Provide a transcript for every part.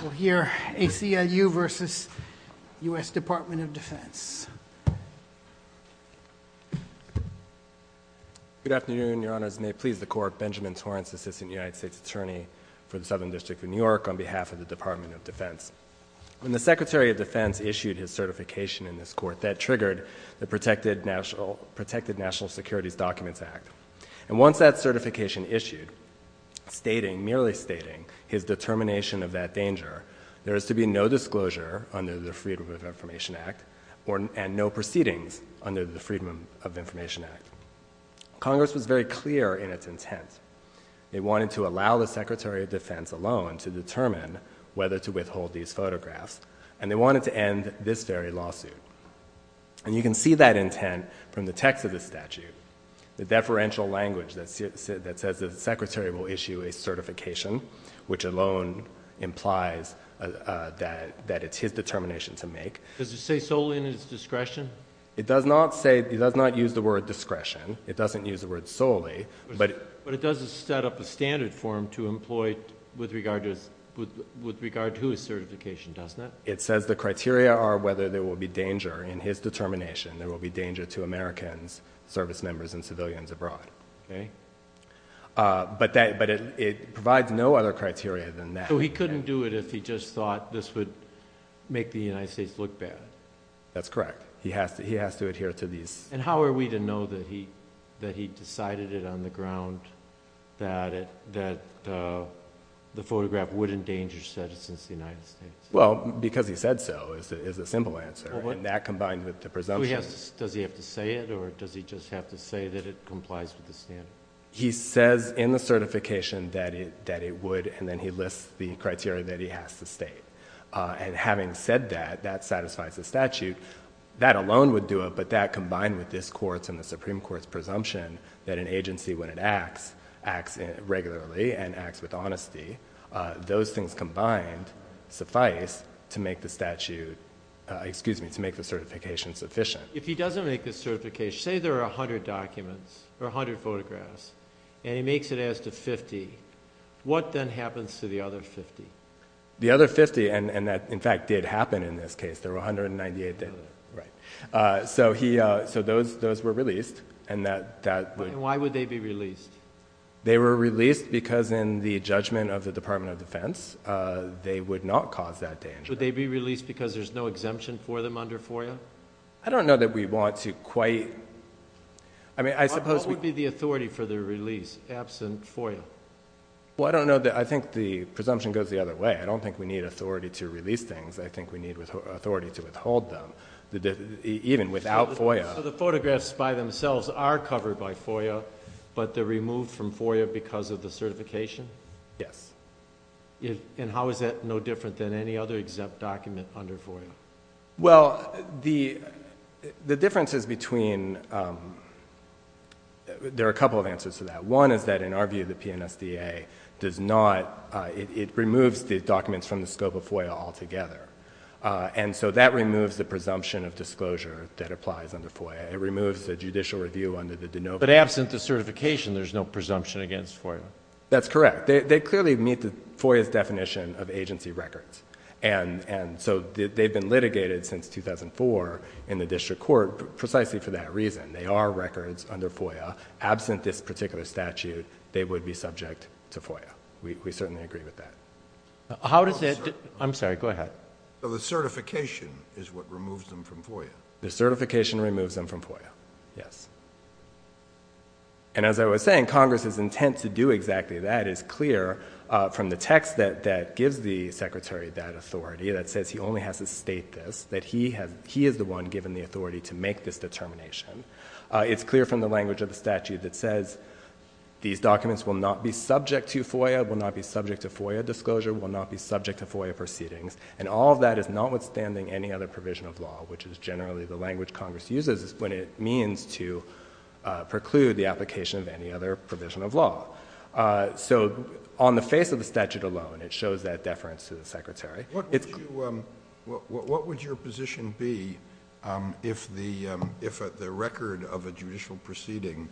We'll hear ACLU versus U.S. Department of Defense. Good afternoon, Your Honors. May it please the court, Benjamin Torrance, Assistant United States Attorney for the Southern District of New York on behalf of the Department of Defense. When the Secretary of Defense issued his certification in this court, that triggered the Protected National Securities Documents Act, and once that certification issued, stating, merely stating his determination of that danger, there is to be no disclosure under the Freedom of Information Act and no proceedings under the Freedom of Information Act. Congress was very clear in its intent. They wanted to allow the Secretary of Defense alone to determine whether to withhold these photographs, and they wanted to end this very lawsuit. And you can see that intent from the text of the statute, the deferential language that says that the Secretary will issue a certification, which alone implies that it's his determination to make. Does it say solely in his discretion? It does not say, it does not use the word discretion. It doesn't use the word solely, but it does set up a standard for him to employ with regard to his certification, doesn't it? It says the criteria are whether there will be danger in his determination. There will be danger to Americans, service members, and civilians abroad. Okay. Uh, but that, but it, it provides no other criteria than that. So he couldn't do it if he just thought this would make the United States look bad. That's correct. He has to, he has to adhere to these. And how are we to know that he, that he decided it on the ground, that it, that, uh, the photograph would endanger citizens in the United States? Well, because he said so, is a simple answer. And that combined with the presumption. Does he have to say it or does he just have to say that it complies with the standard? He says in the certification that it, that it would. And then he lists the criteria that he has to state. Uh, and having said that, that satisfies the statute that alone would do it, but that combined with this courts and the Supreme court's presumption that an agency, when it acts, acts regularly and acts with honesty, uh, those things combined suffice to make the statute, uh, excuse me, to make the certification sufficient. If he doesn't make this certification, say there are a hundred documents or a hundred photographs and he makes it as to 50, what then happens to the other 50? The other 50. And, and that in fact did happen in this case, there were 198. Right. Uh, so he, uh, so those, those were released and that, that, why would they be released? They were released because in the judgment of the department of defense, uh, they would not cause that danger. Would they be released because there's no exemption for them under FOIA? I don't know that we want to quite, I mean, I suppose we'd be the authority for the release absent FOIA. Well, I don't know that. I think the presumption goes the other way. I don't think we need authority to release things. I think we need authority to withhold them. The, the, even without FOIA, the photographs by themselves are covered by FOIA, but they're removed from FOIA because of the certification. Yes. And how is that no different than any other exempt document under FOIA? Well, the, the differences between, um, there are a couple of answers to that. One is that in our view, the PNSDA does not, uh, it, it removes the documents from the scope of FOIA altogether. Uh, and so that removes the presumption of disclosure that applies under FOIA. It removes the judicial review under the Denova. But absent the certification, there's no presumption against FOIA. That's correct. They clearly meet the FOIA's definition of agency records. And, and so they've been litigated since 2004 in the district court, precisely for that reason. They are records under FOIA. Absent this particular statute, they would be subject to FOIA. We, we certainly agree with that. How does it, I'm sorry, go ahead. So the certification is what removes them from FOIA. The certification removes them from FOIA. Yes. And as I was saying, Congress's intent to do exactly that is clear, uh, from the text that, that gives the secretary that authority that says he only has to state this, that he has, he is the one given the authority to make this determination, uh, it's clear from the language of the statute that says these documents will not be subject to FOIA, will not be subject to FOIA disclosure, will not be subject to FOIA proceedings. And all of that is not withstanding any other provision of law, which is generally the language Congress uses when it means to, uh, preclude the application of any other provision of law. Uh, so on the face of the statute alone, it shows that deference to the secretary. What would you, um, what, what would your position be, um, if the, um, if the record of a judicial proceeding,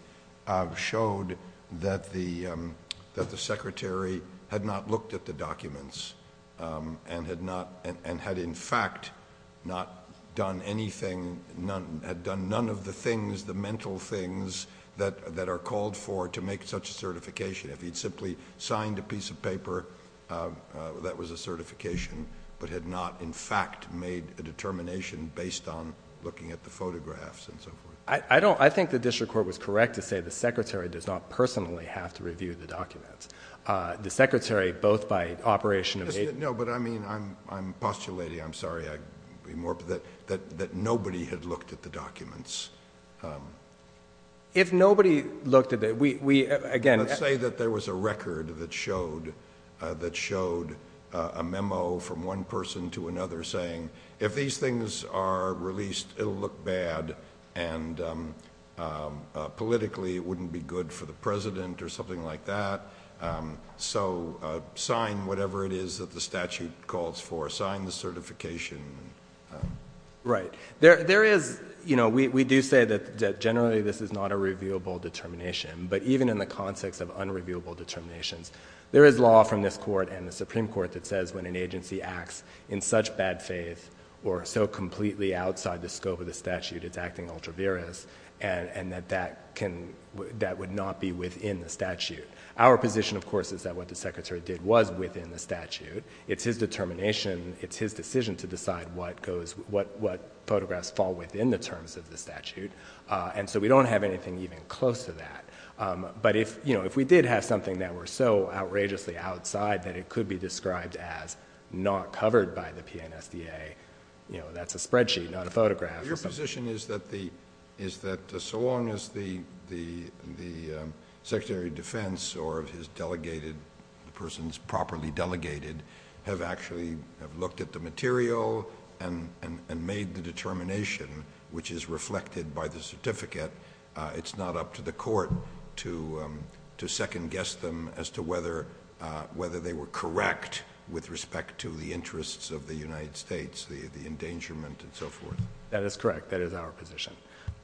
uh, showed that the, um, that the secretary had not looked at the documents, um, and had not, and had in fact not done anything, none had done none of the things, the mental things that, that are called for to make such a certification, if he'd simply signed a piece of paper, um, uh, that was a certification, but had not in fact made a determination based on looking at the photographs and so forth. I don't, I think the district court was correct to say the secretary does not personally have to review the documents. Uh, the secretary, both by operation. No, but I mean, I'm, I'm postulating, I'm sorry. I'd be more that, that, that nobody had looked at the documents. Um, if nobody looked at it, we, we, again, let's say that there was a record that showed, uh, that showed, uh, a memo from one person to another saying, if these things are released, it'll look bad. And, um, um, uh, politically it wouldn't be good for the president or something like that. Um, so, uh, sign whatever it is that the statute calls for, sign the certification. Right there. There is, you know, we, we do say that generally this is not a reviewable determination, but even in the context of unreviewable determinations, there is law from this court and the Supreme court that says when an agency acts in such bad faith or so completely outside the scope of the statute, it's acting ultra-virus and, and that, that can, that would not be within the statute. Our position of course, is that what the secretary did was within the statute. It's his determination. It's his decision to decide what goes, what, what photographs fall within the terms of the statute. Uh, and so we don't have anything even close to that. Um, but if, you know, if we did have something that were so outrageously outside that it could be described as not covered by the PNSDA, you know, that's a spreadsheet, not a photograph. Your position is that the, is that so long as the, the, the, um, secretary of defense or his delegated, the person's properly delegated, have actually have looked at the material and, and, and made the determination, which is reflected by the certificate. Uh, it's not up to the court to, um, to second guess them as to whether, uh, whether they were correct with respect to the interests of the United States, the, the endangerment and so forth. That is correct. That is our position.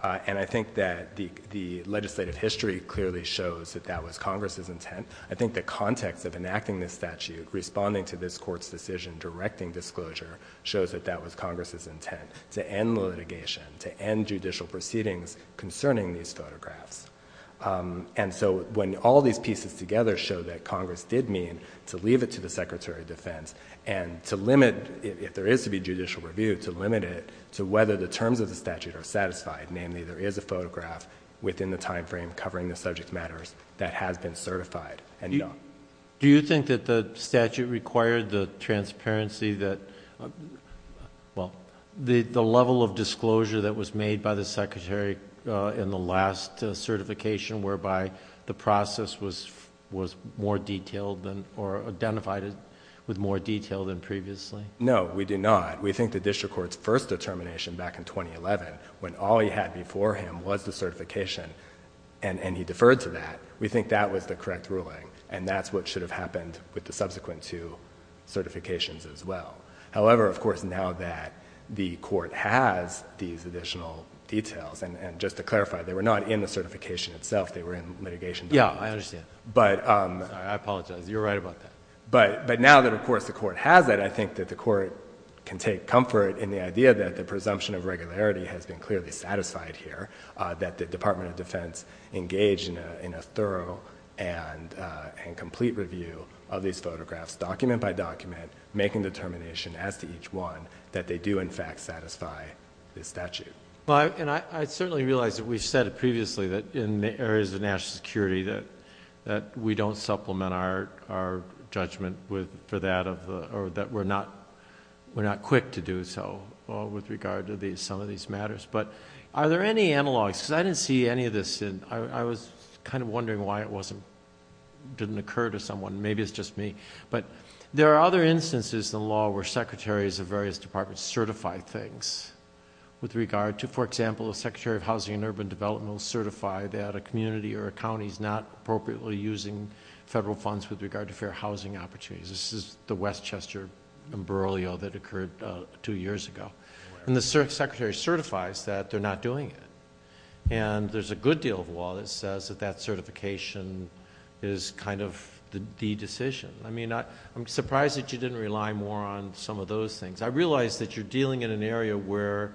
Uh, and I think that the, the legislative history clearly shows that that was Congress's intent. I think the context of enacting this statute, responding to this court's decision, directing disclosure shows that that was Congress's intent to end litigation, to end judicial proceedings concerning these photographs. Um, and so when all these pieces together show that Congress did mean to leave it to the secretary of defense and to limit it, if there is to be a photograph within the time frame covering the subject matters that has been certified and, you know. Do you think that the statute required the transparency that, well, the, the level of disclosure that was made by the secretary, uh, in the last certification whereby the process was, was more detailed than, or identified with more detail than previously? No, we do not. We think the district court's first determination back in 2011, when all they had before him was the certification and, and he deferred to that. We think that was the correct ruling. And that's what should have happened with the subsequent two certifications as well. However, of course, now that the court has these additional details and just to clarify, they were not in the certification itself. They were in litigation. Yeah, I understand. But, um, I apologize. You're right about that. But, but now that of course the court has that, I think that the court can take comfort in the idea that the presumption of regularity has been clearly satisfied here, uh, that the department of defense engaged in a, in a thorough and, uh, and complete review of these photographs, document by document, making determination as to each one that they do in fact satisfy the statute. Well, and I certainly realized that we've said it previously that in the areas of national security, that, that we don't supplement our, our judgment with, for that of the, or that we're not, we're not quick to do so, uh, with regard to these, some of these matters. But are there any analogs, cause I didn't see any of this in, I was kind of wondering why it wasn't, didn't occur to someone, maybe it's just me. But there are other instances in the law where secretaries of various departments certify things with regard to, for example, the secretary of housing and urban development will certify that a community or a county is not appropriately using federal funds with regard to fair housing opportunities. This is the Westchester umbrellio that occurred, uh, two years ago. And the secretary certifies that they're not doing it. And there's a good deal of law that says that that certification is kind of the decision. I mean, I, I'm surprised that you didn't rely more on some of those things. I realized that you're dealing in an area where,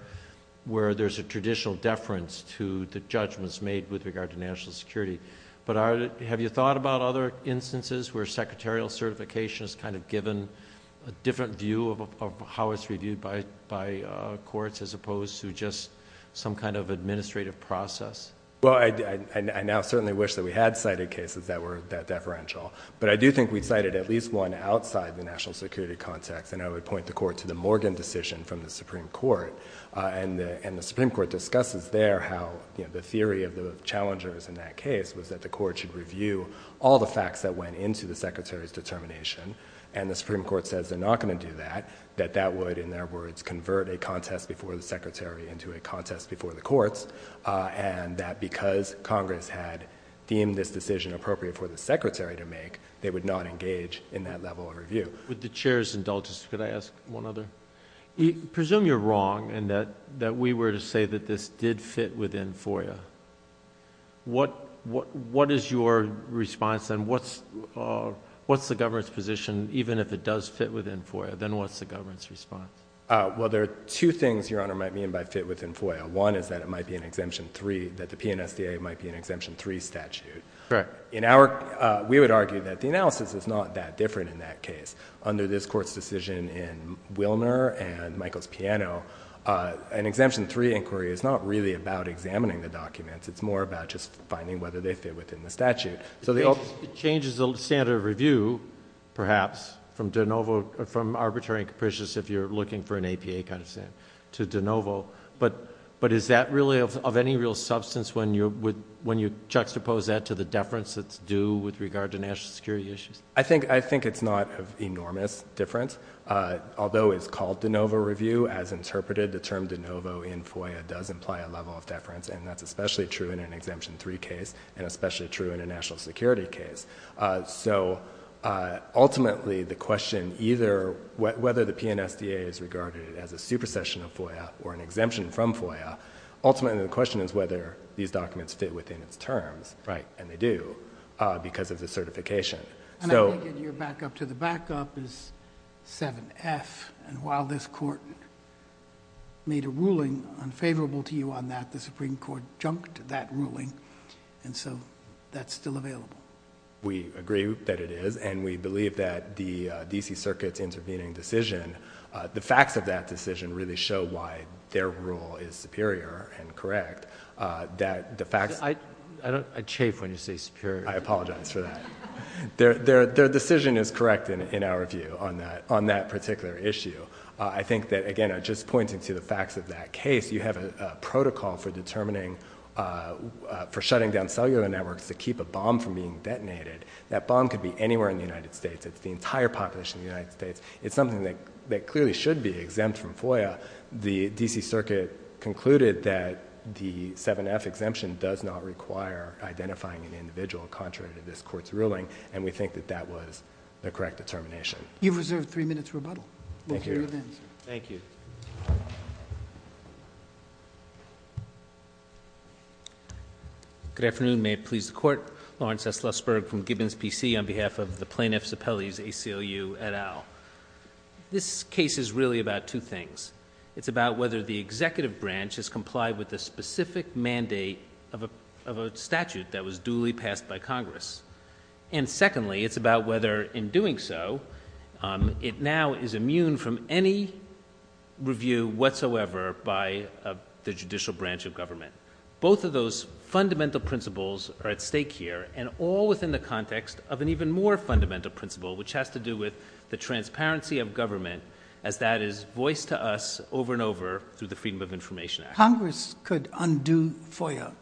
where there's a traditional deference to the judgments made with regard to national security. But are, have you thought about other instances where secretarial certification is kind of given a different view of how it's reviewed by, by, uh, courts as opposed to just some kind of administrative process? Well, I, I, I now certainly wish that we had cited cases that were that deferential, but I do think we cited at least one outside the national security context. And I would point the court to the Morgan decision from the Supreme Court. Uh, and the, and the Supreme Court discusses there how, you know, the theory of the challengers in that case was that the court should review all the facts that went into the secretary's determination. And the Supreme Court says they're not going to do that, that that would, in their words, convert a contest before the secretary into a contest before the courts. Uh, and that because Congress had deemed this decision appropriate for the secretary to make, they would not engage in that level of review. Would the chairs indulge us? Could I ask one other? Presume you're wrong and that, that we were to say that this did fit within FOIA. What, what, what is your response? And what's, uh, what's the government's position, even if it does fit within FOIA, then what's the government's response? Uh, well, there are two things your honor might mean by fit within FOIA. One is that it might be an exemption three, that the PNSDA might be an exemption three statute. Correct. In our, uh, we would argue that the analysis is not that different in that case under this court's decision in Wilner and Michael's piano, uh, an exemption three inquiry is not really about examining the documents. It's more about just finding whether they fit within the statute. So the changes, the standard of review, perhaps from DeNovo from arbitrary and capricious, if you're looking for an APA kind of thing to DeNovo, but, but is that really of any real substance when you're with, when you juxtapose that to the deference that's due with regard to national security issues? I think, I think it's not an enormous difference. Uh, although it's called DeNovo review as interpreted, the term DeNovo in FOIA does imply a level of deference. And that's especially true in an exemption three case and especially true in a national security case. Uh, so, uh, ultimately the question either whether the PNSDA is regarded as a supersession of FOIA or an exemption from FOIA, ultimately the question is whether these documents fit within its terms, right? And they do, uh, because of the certification. So your backup to the backup is seven F and while this court made a ruling unfavorable to you on that, the Supreme Court jumped that ruling. And so that's still available. We agree that it is. And we believe that the, uh, DC circuits intervening decision, uh, the facts of that decision really show why their rule is superior and correct, uh, that the facts, I, I don't, I chafe when you say superior, I apologize for that. Their, their, their decision is correct in, in our view on that, on that particular issue. I think that again, just pointing to the facts of that case, you have a protocol for determining, uh, uh, for shutting down cellular networks to keep a bomb from being detonated. That bomb could be anywhere in the United States. It's the entire population of the United States. It's something that, that clearly should be exempt from FOIA. The DC circuit concluded that the seven F exemption does not require identifying an individual contrary to this court's ruling. And we think that that was the correct determination. You've reserved three minutes rebuttal. Thank you. Good afternoon. May it please the court. Lawrence S. Lusberg from Gibbons PC on behalf of the plaintiffs appellees, ACLU et al. This case is really about two things. It's about whether the executive branch has complied with the specific mandate of a, of a statute that was duly passed by Congress. And secondly, it's about whether in doing so, um, it now is immune from any review whatsoever by, uh, the judicial branch of the ACLU. Both of those fundamental principles are at stake here and all within the context of an even more fundamental principle, which has to do with the transparency of government, as that is voiced to us over and over through the Freedom of Information Act. Congress could undo FOIA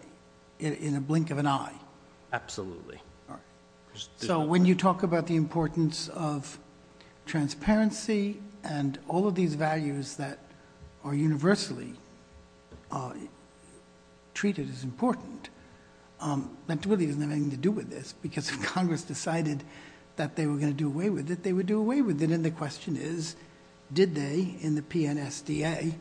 in a blink of an eye. Absolutely. So when you talk about the importance of transparency and all of these treated as important, um, that really doesn't have anything to do with this because Congress decided that they were going to do away with it. They would do away with it. And the question is, did they in the PNSDA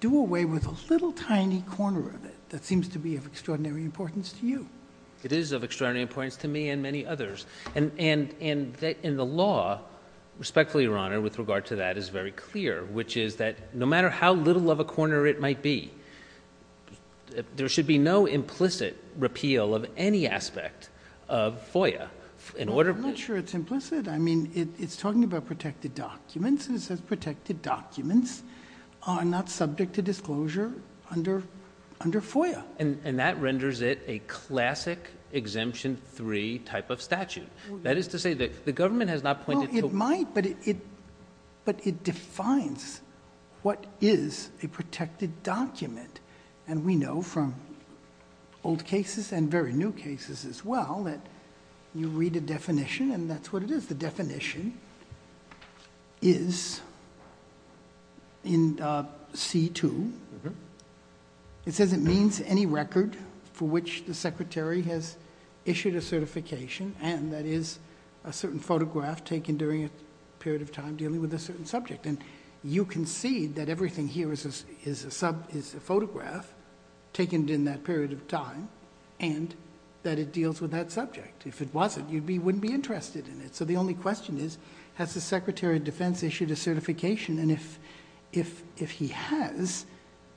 do away with a little tiny corner of it that seems to be of extraordinary importance to you? It is of extraordinary importance to me and many others. And, and, and that in the law, respectfully, Your Honor, with regard to that is very clear, which is that no matter how little of a corner it might be, there should be no implicit repeal of any aspect of FOIA in order. I'm not sure it's implicit. I mean, it's talking about protected documents and it says protected documents are not subject to disclosure under, under FOIA. And that renders it a classic exemption three type of statute. That is to say that the government has not pointed to. It might, but it, but it defines what is a protected document. And we know from old cases and very new cases as well, that you read a definition and that's what it is. The definition is in, uh, C2, it says it means any record for which the secretary has issued a certification. And that is a certain photograph taken during a period of time dealing with a certain subject. And you can see that everything here is, is a sub is a photograph taken in that period of time and that it deals with that subject. If it wasn't, you'd be, wouldn't be interested in it. So the only question is, has the secretary of defense issued a certification? And if, if, if he has,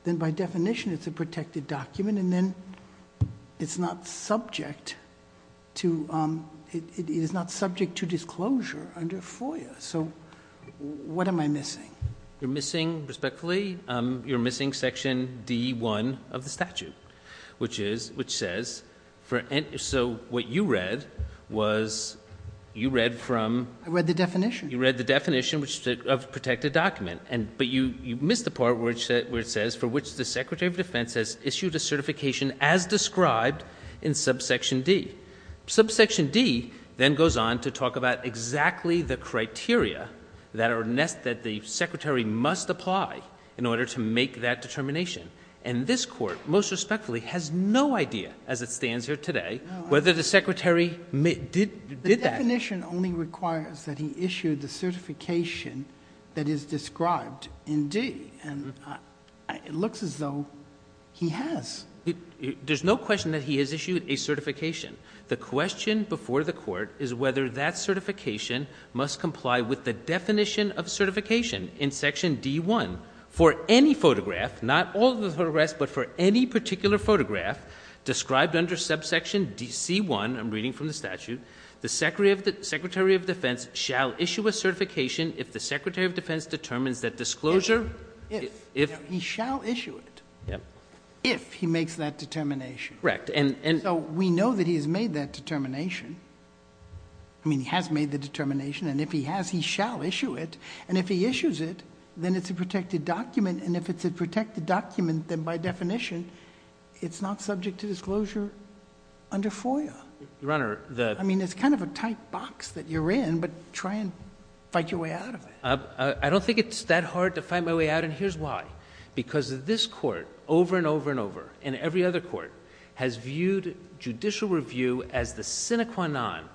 then by definition it's a protected document and then it's not subject to, um, it is not subject to disclosure under FOIA. So what am I missing? You're missing, respectfully, um, you're missing section D1 of the statute, which is, which says for, so what you read was you read from... I read the definition. You read the definition of protected document. And, but you, you missed the part where it said, where it says for which the secretary of defense has issued a certification as described in subsection D. Subsection D then goes on to talk about exactly the criteria that are, that the secretary must apply in order to make that determination. And this court, most respectfully, has no idea as it stands here today, whether the secretary did that. The definition only requires that he issued the certification that is described in D and it looks as though he has. There's no question that he has issued a certification. The question before the court is whether that certification must comply with the definition of certification in section D1 for any photograph, not all the photographs, but for any particular photograph described under subsection D, C1, I'm reading from the statute, the secretary of the secretary of defense shall issue a certification if the secretary of defense determines that disclosure, if he shall issue it, if he makes that determination. Correct. And, and so we know that he has made that determination. I mean, he has made the determination and if he has, he shall issue it. And if he issues it, then it's a protected document. And if it's a protected document, then by definition, it's not subject to disclosure under FOIA. Your Honor, the, I mean, it's kind of a tight box that you're in, but try and fight your way out of it. I don't think it's that hard to find my way out. And here's why, because of this court over and over and over and every other court has viewed judicial review as the sine qua non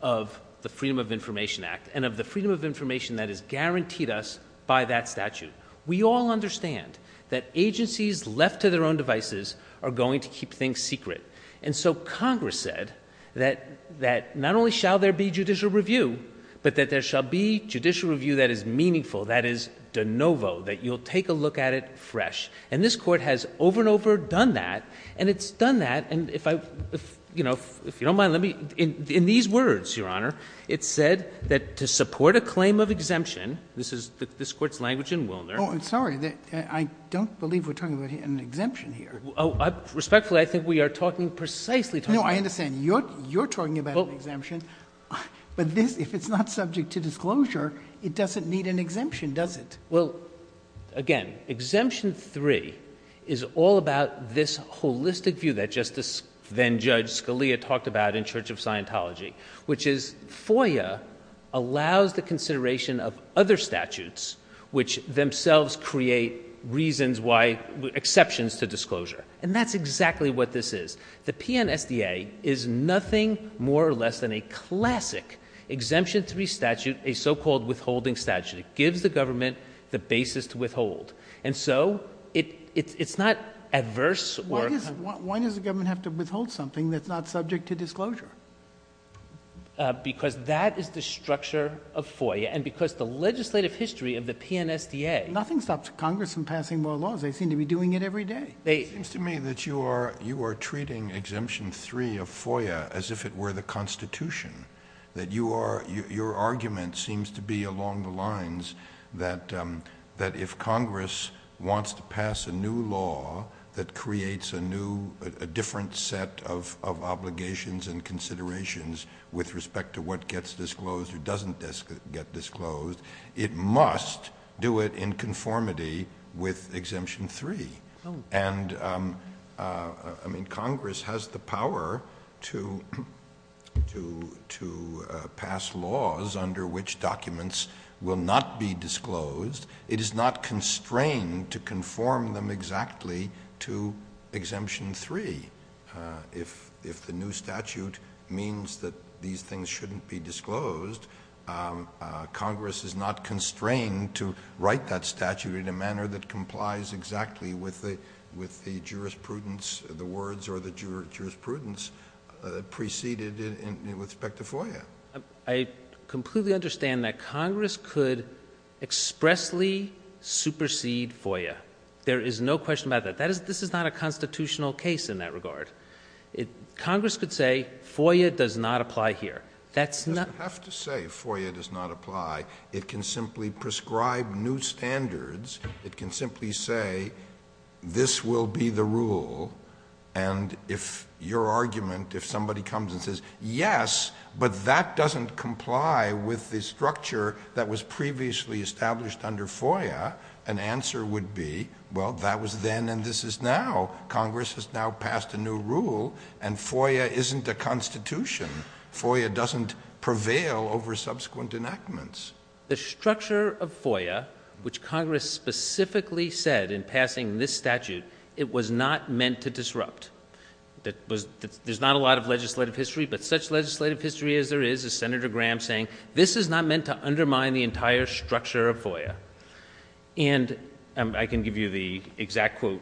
of the freedom of information act and of the freedom of information that is guaranteed us by that statute. We all understand that agencies left to their own devices are going to keep things secret. And so Congress said that, that not only shall there be judicial review, but that there shall be judicial review that is meaningful, that is de novo, that you'll take a look at it fresh. And this court has over and over done that and it's done that. And if I, if, you know, if you don't mind, let me in these words, Your Honor, it said that to support a claim of exemption, this is the, this court's language in Wilner. Oh, I'm sorry that I don't believe we're talking about an exemption here. Oh, respectfully. I think we are talking precisely. No, I understand you're, you're talking about an exemption, but this, if it's not subject to disclosure, it doesn't need an exemption, does it? Well, again, exemption three is all about this holistic view that just as then judge Scalia talked about in church of Scientology, which is FOIA allows the consideration of other statutes, which themselves create reasons why exceptions to disclosure, and that's exactly what this is. The PNSDA is nothing more or less than a classic exemption three statute, a so-called withholding statute. It gives the government the basis to withhold. And so it, it's, it's not adverse. Why does, why does the government have to withhold something that's not subject to disclosure? Because that is the structure of FOIA. And because the legislative history of the PNSDA. Nothing stops Congress from passing more laws. They seem to be doing it every day. It seems to me that you are, you are treating exemption three of FOIA as if it were the constitution that you are, your argument seems to be along the lines that, um, that if Congress wants to pass a new law that creates a new, a different set of, of obligations and considerations with respect to what gets disclosed or doesn't get disclosed, it must do it in conformity with exemption three. And, um, uh, I mean, Congress has the power to, to, to, uh, pass laws under which documents will not be disclosed. It is not constrained to conform them exactly to exemption three. Uh, if, if the new statute means that these things shouldn't be disclosed, um, uh, Congress is not constrained to write that statute in a manner that exactly with the, with the jurisprudence, the words or the jurisprudence, uh, preceded in respect to FOIA. I completely understand that Congress could expressly supersede FOIA. There is no question about that. That is, this is not a constitutional case in that regard. It, Congress could say FOIA does not apply here. That's not... It doesn't have to say FOIA does not apply. It can simply prescribe new standards. It can simply say, this will be the rule. And if your argument, if somebody comes and says, yes, but that doesn't comply with the structure that was previously established under FOIA, an answer would be, well, that was then, and this is now. Congress has now passed a new rule and FOIA isn't a constitution. FOIA doesn't prevail over subsequent enactments. The structure of FOIA, which Congress specifically said in passing this statute, it was not meant to disrupt. That was, there's not a lot of legislative history, but such legislative history as there is, as Senator Graham saying, this is not meant to undermine the entire structure of FOIA. And I can give you the exact quote,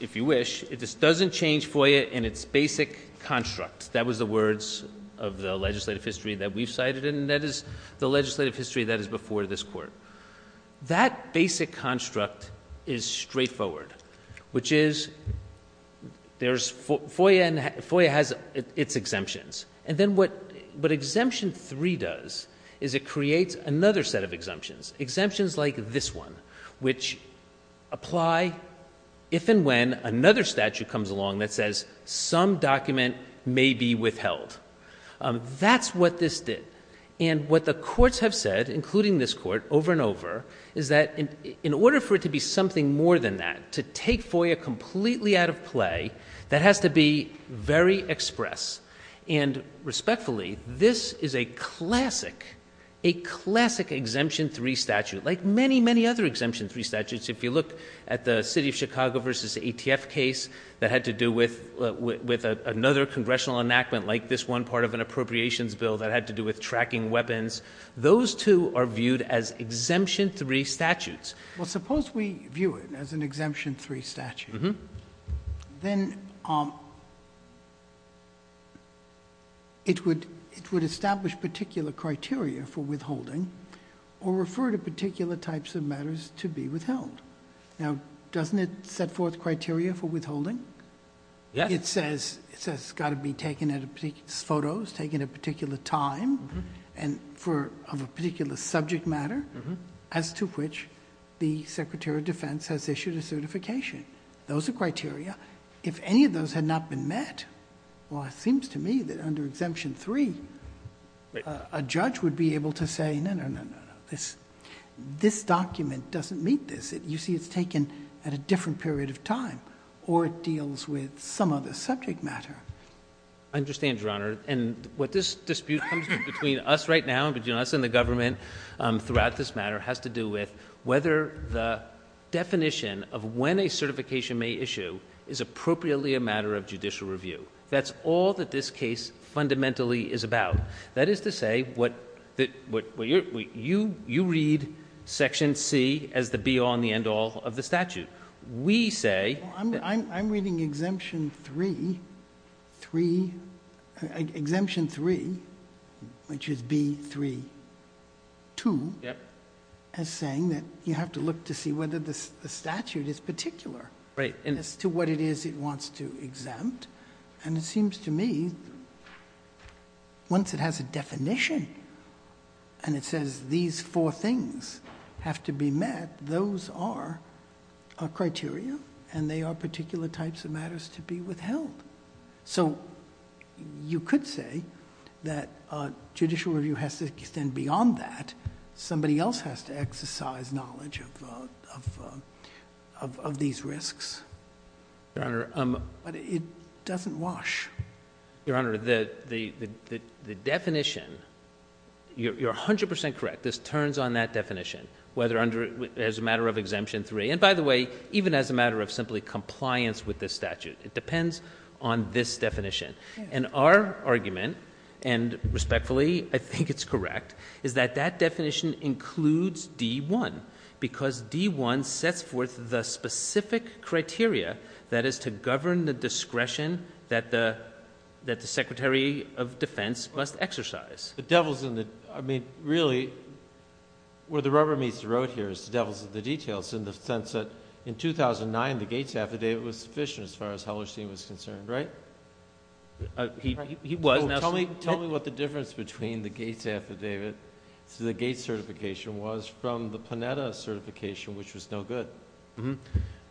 if you wish, it just doesn't change FOIA in its basic construct. That was the words of the legislative history that we've cited. And that is the legislative history that is before this court. That basic construct is straightforward, which is there's FOIA and FOIA has its exemptions. And then what, what exemption three does is it creates another set of exemptions, exemptions like this one, which apply if, and when another statute comes along that says some document may be withheld, that's what this did. And what the courts have said, including this court over and over, is that in order for it to be something more than that, to take FOIA completely out of play, that has to be very express. And respectfully, this is a classic, a classic exemption three statute, like many, many other exemption three statutes. If you look at the city of Chicago versus ATF case that had to do with, with another congressional enactment, like this one part of an appropriations bill that had to do with tracking weapons, those two are viewed as exemption three statutes. Well, suppose we view it as an exemption three statute, then it would, it would establish particular criteria for withholding or refer to particular types of matters to be withheld. Now, doesn't it set forth criteria for withholding? Yeah. It says, it says it's got to be taken at a particular, photos taken at a particular time and for, of a particular subject matter as to which the Secretary of Defense has issued a certification. Those are criteria. If any of those had not been met, well, it seems to me that under exemption three, a judge would be able to say, no, no, no, no, no, this, this document doesn't meet this, you see it's taken at a different period of time, or it deals with some other subject matter. I understand, Your Honor. And what this dispute comes to between us right now, between us and the government, um, throughout this matter has to do with whether the definition of when a certification may issue is appropriately a matter of judicial review. That's all that this case fundamentally is about. That is to say what, that, what you're, you, you read section C as the be-all and the end-all of the statute. We say, I'm, I'm, I'm reading exemption three, three, exemption three, which is B three, two, as saying that you have to look to see whether the statute is particular as to what it is it wants to exempt. And it seems to me once it has a definition and it says these four things have to be met, those are a criteria and they are particular types of matters to be withheld. So you could say that, uh, judicial review has to extend beyond that. Somebody else has to exercise knowledge of, uh, of, uh, of, of these risks. Your Honor, um, but it doesn't wash. Your Honor, the, the, the, the definition, you're, you're a hundred percent correct. This turns on that definition, whether under, as a matter of exemption three. And by the way, even as a matter of simply compliance with this statute, it depends on this definition and our argument and respectfully, I think it's correct, is that that definition includes D one because D one sets forth the specific criteria that is to govern the discretion that the, that the secretary of defense must exercise. The devil's in the, I mean, really where the rubber meets the road here is the devil's in the details. In the sense that in 2009, the Gates affidavit was sufficient as far as Hellerstein was concerned, right? Uh, he, he was now. Tell me, tell me what the difference between the Gates affidavit to the Gates certification was from the Panetta certification, which was no good. Um,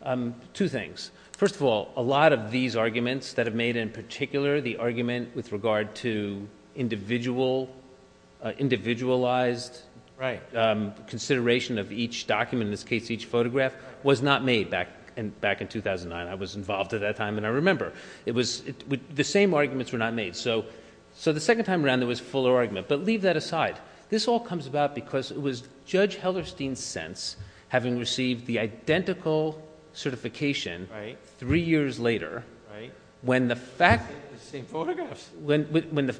um, two things. First of all, a lot of these arguments that have made in particular, the individualized consideration of each document, in this case, each photograph was not made back in, back in 2009. I was involved at that time. And I remember it was the same arguments were not made. So, so the second time around there was fuller argument, but leave that aside. This all comes about because it was judge Hellerstein's sense, having received the identical certification three years later, when the fact, when, when the,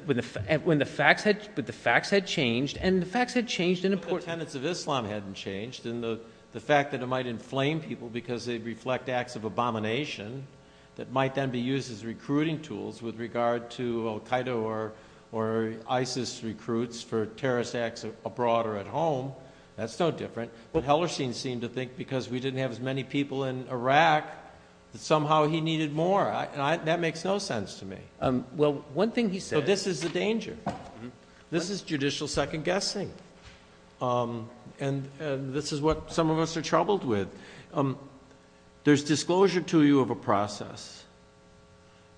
when the facts had, but the facts had changed and the facts had changed in importance of Islam hadn't changed. And the, the fact that it might inflame people because they reflect acts of abomination that might then be used as recruiting tools with regard to Al Qaeda or, or ISIS recruits for terrorist acts abroad or at home, that's no different. But Hellerstein seemed to think because we didn't have as many people in Iraq, that somehow he needed more. I, and I, that makes no sense to me. Um, well, one thing he said, this is the danger, this is judicial second guessing. Um, and, and this is what some of us are troubled with. Um, there's disclosure to you of a process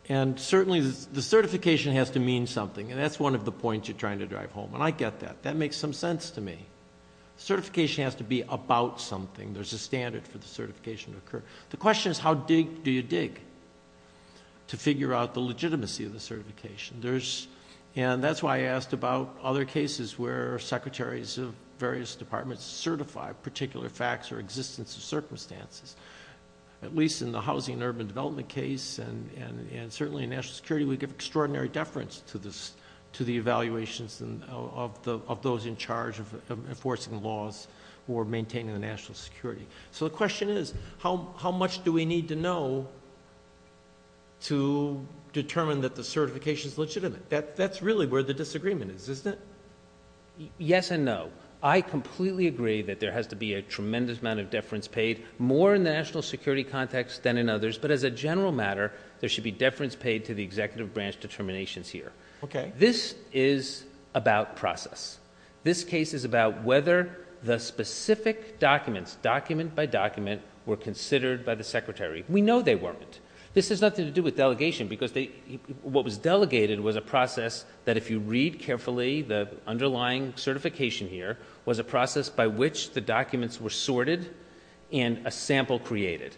and certainly the certification has to mean something. And that's one of the points you're trying to drive home. And I get that. That makes some sense to me. Certification has to be about something. There's a standard for the certification to occur. The question is how big do you dig to figure out the legitimacy of the certification? There's, and that's why I asked about other cases where secretaries of various departments certify particular facts or existence of circumstances, at least in the housing and urban development case. And, and, and certainly in national security, we give extraordinary deference to this, to the evaluations of the, of those in charge of enforcing laws or maintaining the national security. So the question is how, how much do we need to know to determine that the certification is legitimate? That that's really where the disagreement is, isn't it? Yes. And no, I completely agree that there has to be a tremendous amount of deference paid more in the national security context than in others. But as a general matter, there should be deference paid to the executive branch determinations here. Okay. This is about process. This case is about whether the specific documents document by document were considered by the secretary. We know they weren't. This has nothing to do with delegation because they, what was delegated was a process that if you read carefully, the underlying certification here was a process by which the documents were sorted and a sample created.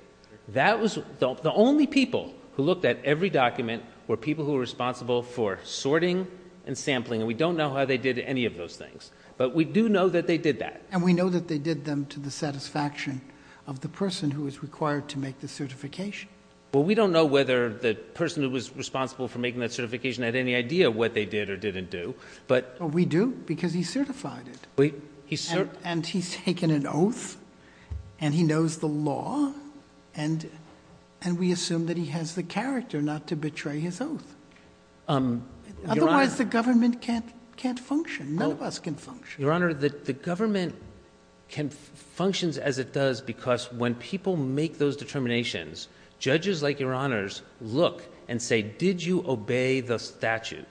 That was the only people who looked at every document where people who are responsible for sorting and sampling, and we don't know how they did any of those things, but we do know that they did that. And we know that they did them to the satisfaction of the person who is required to make the certification. Well, we don't know whether the person who was responsible for making that certification had any idea what they did or didn't do, but we do because he certified it and he's taken an oath and he knows the law and, and we assume that he has the character not to betray his oath. Um, otherwise the government can't, can't function. None of us can function. Your honor, the, the government can functions as it does because when people make those determinations, judges like your honors look and say, did you obey the statute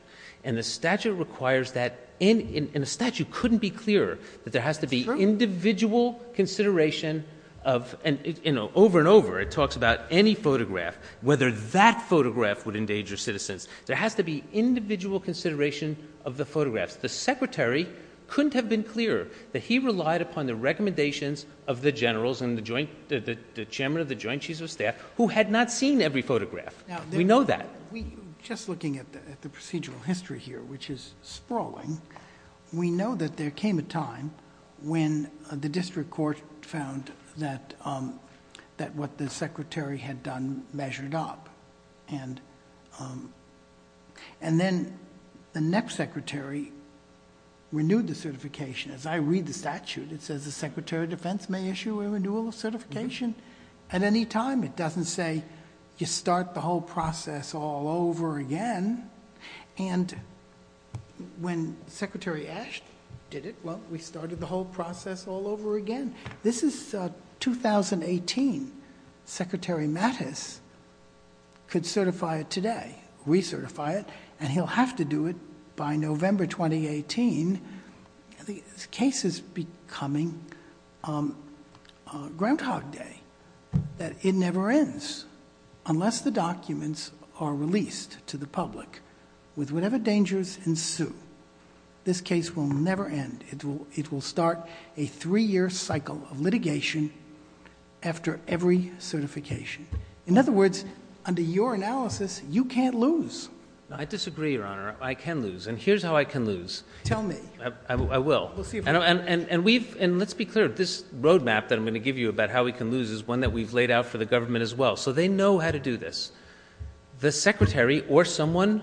and the statute requires that in, in, in a statute couldn't be clear that there has to be individual consideration of, and you know, over and over, it talks about any photograph, whether that photograph would endanger citizens, there has to be individual consideration of the photographs. The secretary couldn't have been clear that he relied upon the recommendations of the generals and the joint, the chairman of the joint chiefs of staff who had not seen every photograph. We know that. We just looking at the, at the procedural history here, which is sprawling. We know that there came a time when the district court found that, um, that what the secretary had done measured up and, um, and then the next secretary renewed the certification. As I read the statute, it says the secretary of defense may issue a renewal of certification at any time. It doesn't say you start the whole process all over again. And when secretary Ashton did it, well, we started the whole process all over again. This is a 2018 secretary Mattis could certify it today, recertify it, and he'll have to do it by November, 2018. The case is becoming, um, uh, Groundhog Day that it never ends unless the documents are released to the public with whatever dangers ensue. This case will never end. It will, it will start a three year cycle of litigation after every certification. In other words, under your analysis, you can't lose. I disagree, Your Honor. I can lose. And here's how I can lose. Tell me. And, and, and we've, and let's be clear, this roadmap that I'm going to give you about how we can lose is one that we've laid out for the government as well. So they know how to do this. The secretary or someone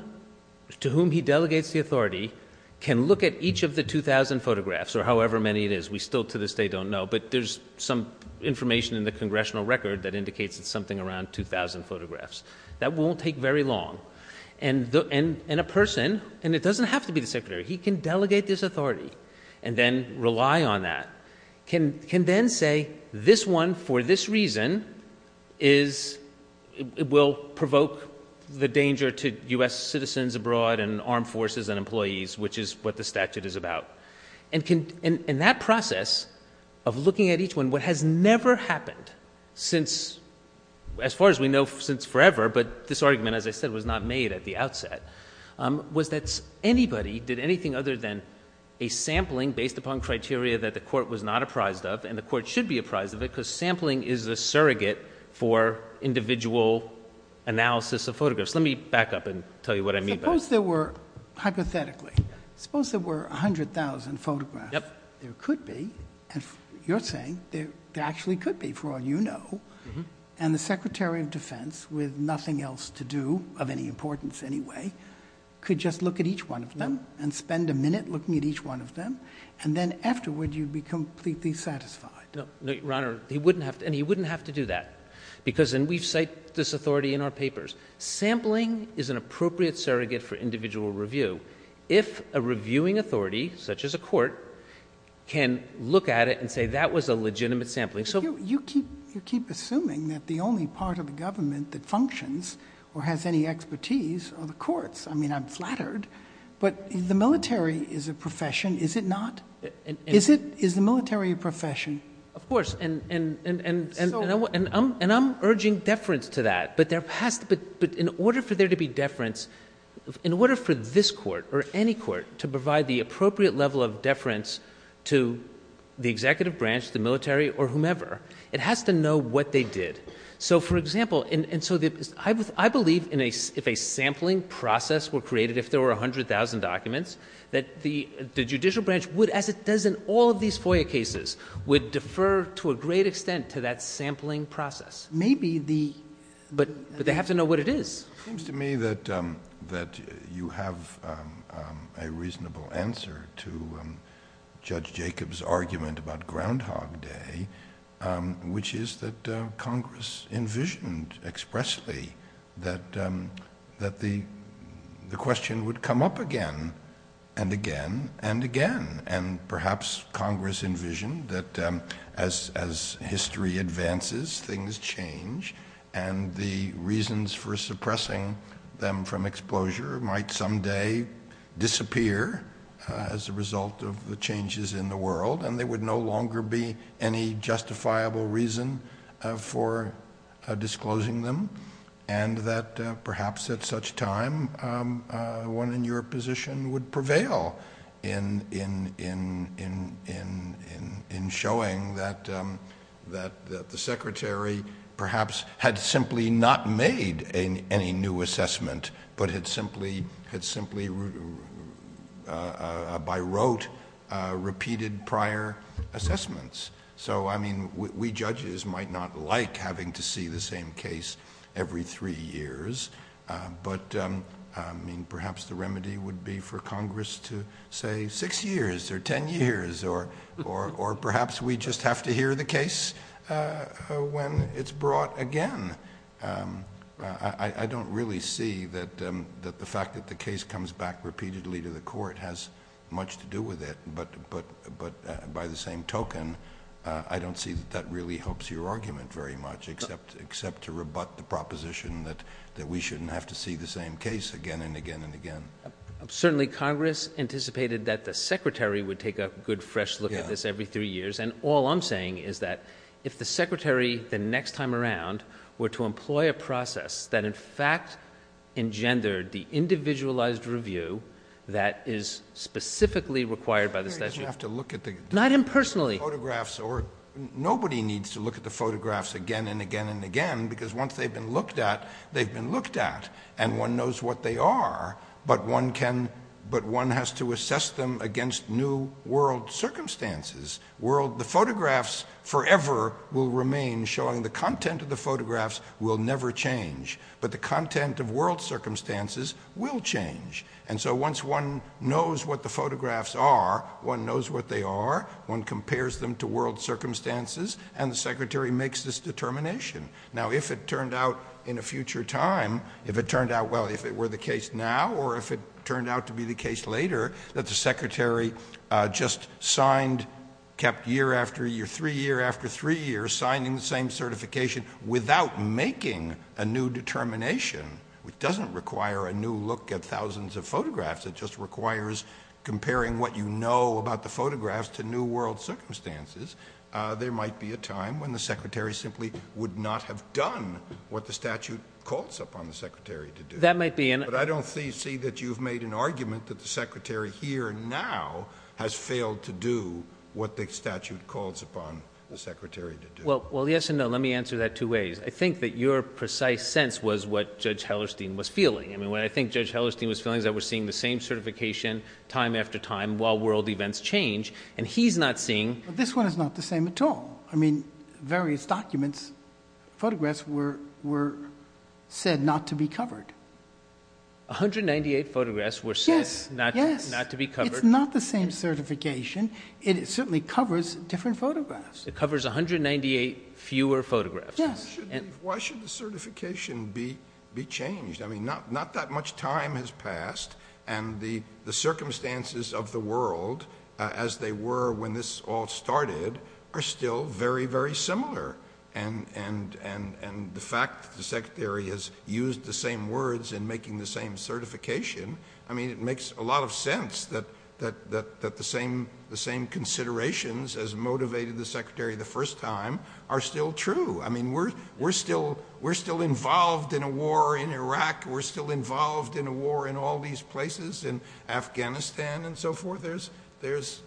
to whom he delegates the authority can look at each of the 2000 photographs or however many it is, we still to this day don't know. But there's some information in the congressional record that indicates it's something around 2000 photographs. That won't take very long. And the, and, and a person, and it doesn't have to be the secretary. He can delegate this authority and then rely on that can, can then say this one for this reason is it will provoke the danger to us citizens abroad and armed forces and employees, which is what the statute is about and can, and that process of looking at each one, what has never happened since, as far as we know, since forever, but this argument, as I said, was not made at the outset was that's anybody did anything other than a sampling based upon criteria that the court was not apprised of and the court should be apprised of it because sampling is the surrogate for individual analysis of photographs. Let me back up and tell you what I mean. Suppose there were hypothetically, suppose there were a hundred thousand photographs there could be, and you're saying there actually could be for all you know, and the secretary of defense with nothing else to do of any importance anyway, could just look at each one of them and spend a minute looking at each one of them and then afterward you'd be completely satisfied. No, no, Your Honor. He wouldn't have to, and he wouldn't have to do that because, and we've cite this authority in our papers, sampling is an appropriate surrogate for individual review. If a reviewing authority such as a court can look at it and say that was a legitimate sampling. So you keep, you keep assuming that the only part of the government that functions or has any expertise are the courts. I mean, I'm flattered, but the military is a profession. Is it not? Is it, is the military a profession? Of course. And, and, and, and, and, and I'm, and I'm urging deference to that, but there has to be, but in order for there to be deference, in order for this court or any court to provide the appropriate level of deference to the executive branch, the military or whomever, it has to know what they did. So for example, and, and so the, I believe in a, if a sampling process were created, if there were a hundred thousand documents that the judicial branch would, as it does in all of these FOIA cases would defer to a great extent to that sampling process. Maybe the, but, but they have to know what it is. It seems to me that, um, that you have, um, um, a reasonable answer to, um, Judge Jacob's argument about Groundhog Day, um, which is that, uh, Congress envisioned expressly that, um, that the, the question would come up again and again and again, and perhaps Congress envisioned that, um, as, as history advances, things change and the reasons for suppressing them from exposure might someday disappear, uh, as a result of the changes in the world. And they would no longer be any justifiable reason, uh, for, uh, disclosing them and that, uh, perhaps at such time, um, uh, one in your position would prevail in, in, in, in, in, in, in showing that, um, that, that the secretary perhaps had simply not made any new assessment, but had simply had simply, uh, uh, uh, by rote, uh, repeated prior assessments. So, I mean, we, we judges might not like having to see the same case every three years, uh, but, um, I mean, perhaps the remedy would be for Congress to say six years or 10 years, or, or, or perhaps we just have to hear the case, uh, when it's brought again, um, uh, I, I don't really see that, um, that the fact that the case comes back repeatedly to the court has much to do with it. But, but, but, uh, by the same token, uh, I don't see that that really helps your argument very much, except, except to rebut the proposition that, that we shouldn't have to see the same case again and again and again. Certainly Congress anticipated that the secretary would take a good fresh look at this every three years. And all I'm saying is that if the secretary the next time around were to engender the individualized review, that is specifically required by the statute. You have to look at the photographs or nobody needs to look at the photographs again and again and again, because once they've been looked at, they've been looked at and one knows what they are, but one can, but one has to assess them against new world circumstances. World, the photographs forever will remain showing the content of the world circumstances will change. And so once one knows what the photographs are, one knows what they are. One compares them to world circumstances and the secretary makes this determination. Now, if it turned out in a future time, if it turned out well, if it were the case now, or if it turned out to be the case later that the secretary, uh, just signed, kept year after year, three year after three years signing the same determination, which doesn't require a new look at thousands of photographs. It just requires comparing what you know about the photographs to new world circumstances. Uh, there might be a time when the secretary simply would not have done what the statute calls upon the secretary to do that might be. And I don't see, see that you've made an argument that the secretary here now has failed to do what the statute calls upon the secretary to do well. Well, yes and no. Let me answer that two ways. I think that your precise sense was what judge Hellerstein was feeling. I mean, what I think judge Hellerstein was feeling is that we're seeing the same certification time after time while world events change and he's not seeing. This one is not the same at all. I mean, various documents, photographs were, were said not to be covered. 198 photographs were said not to be covered. It's not the same certification. It certainly covers different photographs. It covers 198 fewer photographs. Why should the certification be, be changed? I mean, not, not that much time has passed and the, the circumstances of the world, uh, as they were when this all started are still very, very similar. And, and, and, and the fact that the secretary has used the same words and making the same certification. I mean, it makes a lot of sense that, that, that, that the same, the same considerations as motivated the secretary the first time are still true. I mean, we're, we're still, we're still involved in a war in Iraq. We're still involved in a war in all these places in Afghanistan and so forth. There's, there's,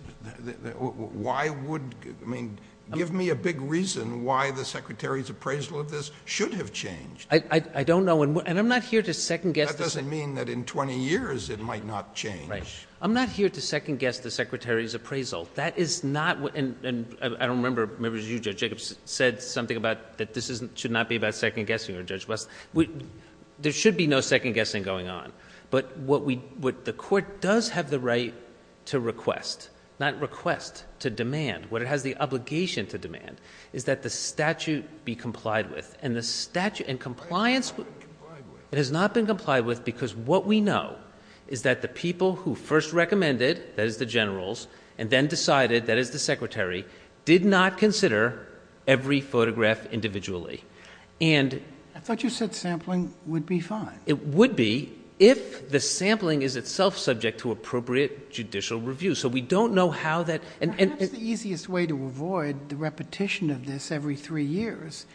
why would, I mean, give me a big reason why the secretary's appraisal of this should have changed. I don't know. And, and I'm not here to second guess. That doesn't mean that in 20 years it might not change. I'm not here to second guess the secretary's appraisal. That is not what, and, and I don't remember, maybe it was you, judge Jacobs said something about that. This isn't, should not be about second guessing or judge West. We, there should be no second guessing going on, but what we would, the court does have the right to request, not request to demand what it has the obligation to demand is that the statute be complied with and the statute and compliance, it has not been complied with because what we know is that the people who first recommended that as the generals and then decided that as the secretary did not consider every photograph individually. And I thought you said sampling would be fine. It would be if the sampling is itself subject to appropriate judicial review. So we don't know how that, and that's the easiest way to avoid the repetition of this every three years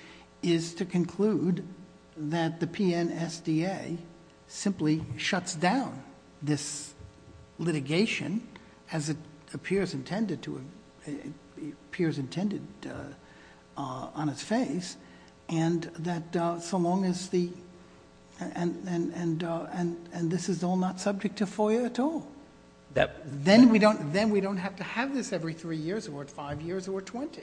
is to conclude that the PNSDA simply shuts down this peers intended on its face and that so long as the, and, and, and, and, and this is all not subject to FOIA at all, then we don't, then we don't have to have this every three years or five years or 20.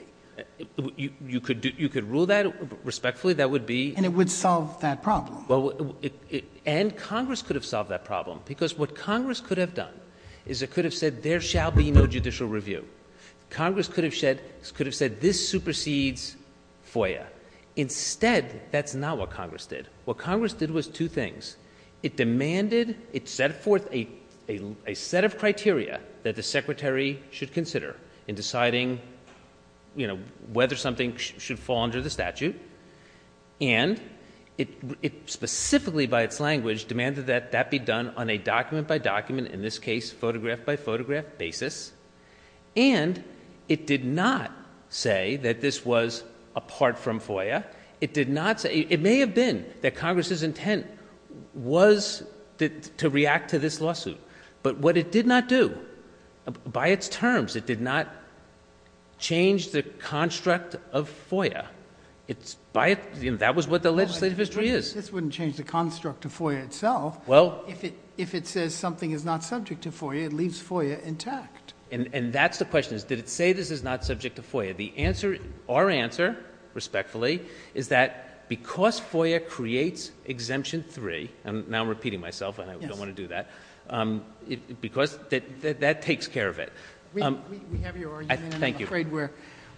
You could do, you could rule that respectfully. That would be, and it would solve that problem. Well, and Congress could have solved that problem because what Congress could have done is it could have said there shall be no judicial review. Congress could have shed, could have said this supersedes FOIA. Instead, that's not what Congress did. What Congress did was two things. It demanded, it set forth a, a, a set of criteria that the secretary should consider in deciding, you know, whether something should fall under the statute. And it, it specifically by its language demanded that that be done on a document by document, in this case, photograph by photograph basis. And it did not say that this was apart from FOIA. It did not say, it may have been that Congress's intent was to react to this lawsuit, but what it did not do by its terms, it did not change the construct of FOIA it's by, that was what the legislative history is. This wouldn't change the construct of FOIA itself. Well, if it, if it says something is not subject to FOIA, it leaves FOIA intact. And, and that's the question is, did it say this is not subject to FOIA? The answer, our answer respectfully is that because FOIA creates exemption three, and now I'm repeating myself and I don't want to do that. Um, it, because that, that, that takes care of it. Um, thank you. I'm afraid we're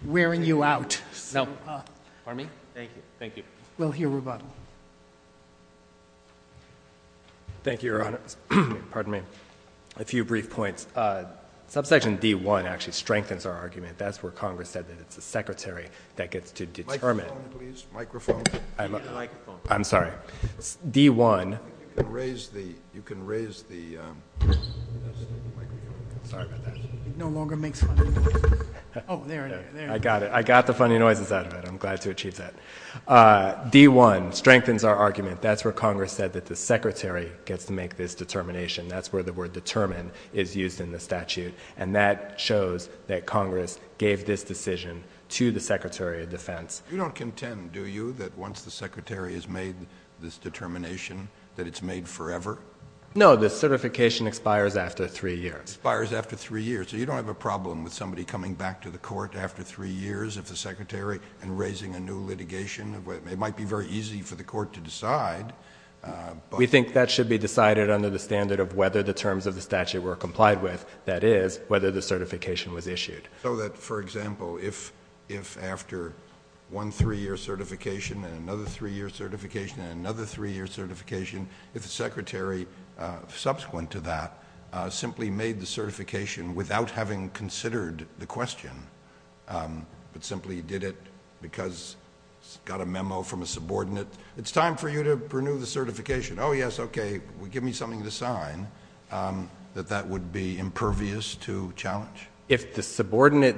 wearing you out. So, uh, pardon me. Thank you. Thank you. We'll hear rebuttal. Thank you, Your Honor. Pardon me. A few brief points. Uh, subsection D one actually strengthens our argument. That's where Congress said that it's the secretary that gets to determine. I'm sorry. D one. You can raise the, you can raise the, um, sorry about that. No longer makes. Oh, there I got it. I got the funny noises out of it. I'm glad to achieve that. Uh, D one strengthens our argument. That's where Congress said that the secretary gets to make this determination. That's where the word determine is used in the statute. And that shows that Congress gave this decision to the secretary of defense. You don't contend, do you, that once the secretary has made this determination that it's made forever? No, this certification expires after three years. Expires after three years. So you don't have a problem with somebody coming back to the court after three years of the secretary and raising a new litigation of what it might be very easy for the court to decide. We think that should be decided under the standard of whether the terms of the statute were complied with that is whether the certification was issued. So that for example, if, if after one three year certification and another three year certification and another three year certification, if the secretary, uh, subsequent to that, uh, simply made the certification without having considered the question, um, but simply did it because it's got a memo from a subordinate. It's time for you to renew the certification. Oh yes. Okay. Well, give me something to sign. Um, that that would be impervious to challenge if the subordinate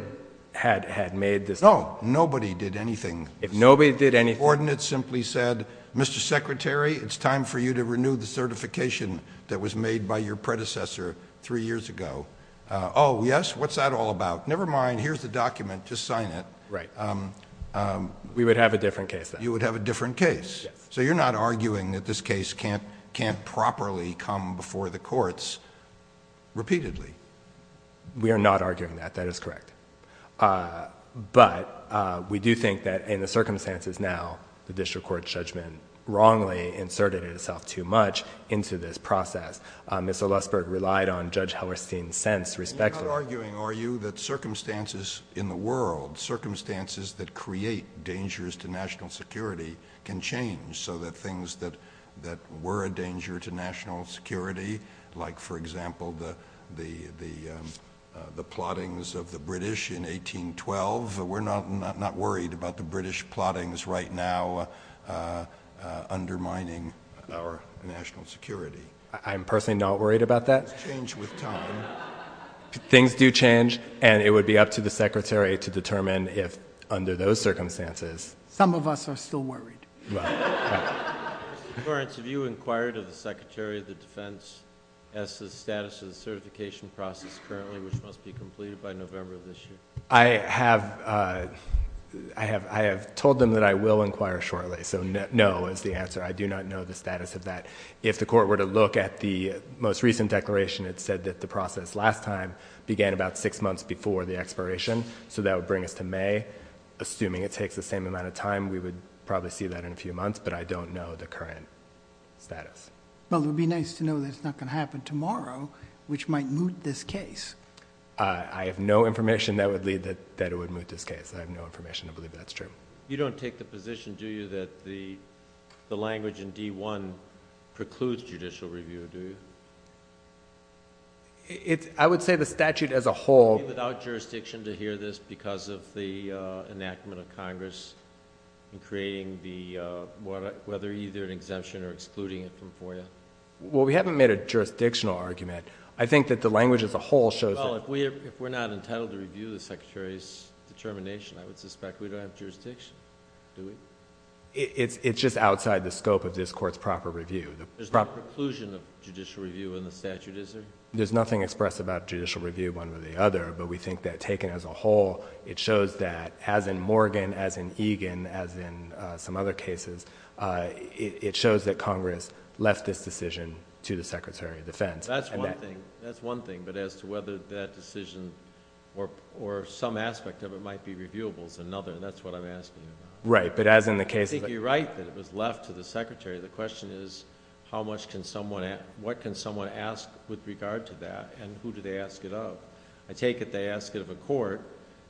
had had made this. Oh, nobody did anything. If nobody did any ordinance simply said, Mr. Secretary, it's time for you to renew the certification that was made by your predecessor three years ago. Uh, Oh yes. What's that all about? Nevermind. Here's the document. Just sign it. Right. Um, um, we would have a different case. You would have a different case. So you're not arguing that this case can't, can't properly come before the courts repeatedly. We are not arguing that that is correct. Uh, but, uh, we do think that in the circumstances now, the district court judgment wrongly inserted itself too much into this process. Uh, Mr. Lussberg relied on Judge Hellerstein's sense respectively. You're not arguing, are you, that circumstances in the world, circumstances that create dangers to national security can change so that things that, that were a danger to national security, like for example, the, the, the, um, uh, the plottings of the British in 1812, we're not, not, not worried about the British plotting is right now, uh, uh, undermining our national security. I'm personally not worried about that. Things do change and it would be up to the secretary to determine if under those circumstances. Some of us are still worried. Lawrence, have you inquired of the secretary of the defense as to the status of the certification process currently, which must be completed by November of this year? I have, uh, I have, I have told them that I will inquire shortly. So no, is the answer. I do not know the status of that. If the court were to look at the most recent declaration, it said that the process last time began about six months before the expiration, so that would bring us to May, assuming it takes the same amount of time, we would probably see that in a few months, but I don't know the current status. Well, it would be nice to know that it's not going to happen tomorrow, which might moot this case. Uh, I have no information that would lead that, that it would moot this case. I have no information. I believe that's true. You don't take the position, do you? That the, the language in D one precludes judicial review, do you? It's, I would say the statute as a whole. Without jurisdiction to hear this because of the enactment of Congress and creating the, uh, whether either an exemption or excluding it from FOIA. Well, we haven't made a jurisdictional argument. I think that the language as a whole shows. If we're not entitled to review the secretary's determination, I would suspect we don't have jurisdiction, do we? It's, it's just outside the scope of this court's proper review. There's no preclusion of judicial review in the statute, is there? There's nothing expressed about judicial review one way or the other, but we think that taken as a whole, it shows that as in Morgan, as in Egan, as in some other cases, uh, it shows that Congress left this decision to the secretary of defense. That's one thing, that's one thing, but as to whether that decision or, or some aspect of it might be reviewable is another, and that's what I'm asking. Right. But as in the case, you're right, that it was left to the secretary. The question is how much can someone, what can someone ask with regard to that and who do they ask it up? I take it. They ask it of a court.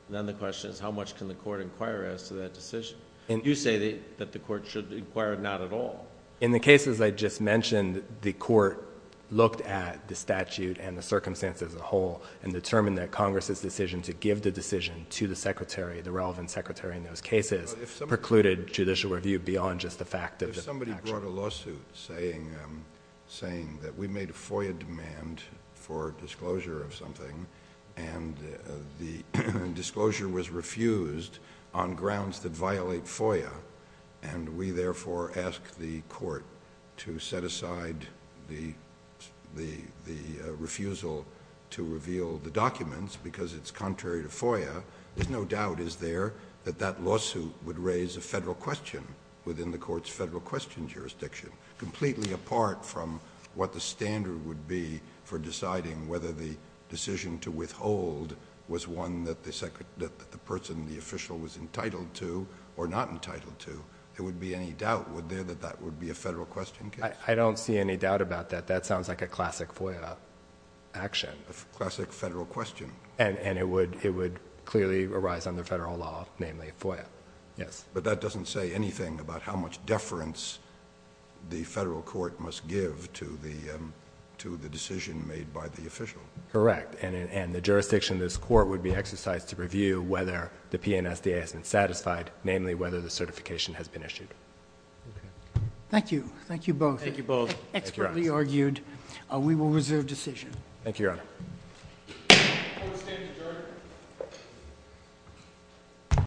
Then the question is how much can the court inquire as to that decision? And you say that the court should inquire not at all. In the cases I just mentioned, the court looked at the statute and the circumstances as a whole, and determined that Congress's decision to give the decision to the secretary, the relevant secretary in those cases, precluded judicial review beyond just the fact of somebody brought a lawsuit saying, um, saying that we made a FOIA demand for disclosure of something and the disclosure was refused on grounds that violate FOIA and we therefore ask the court to set aside the, the, the refusal to reveal the documents because it's contrary to FOIA, there's no doubt, is there, that that lawsuit would raise a federal question within the court's federal question jurisdiction, completely apart from what the standard would be for deciding whether the decision to withhold was one that the person, the official was entitled to or not entitled to, there would be any doubt, would there, that that would be a federal question case? I don't see any doubt about that. That sounds like a classic FOIA action. Classic federal question. And, and it would, it would clearly arise under federal law, namely FOIA. Yes. But that doesn't say anything about how much deference the federal court must give to the, um, to the decision made by the official. Correct. And, and the jurisdiction of this court would be exercised to review whether the PNSDA has been satisfied, namely whether the certification has been issued. Thank you. Thank you both. Expertly argued. Uh, we will reserve decision. Thank you, Your Honor. Thank you, Your Honor.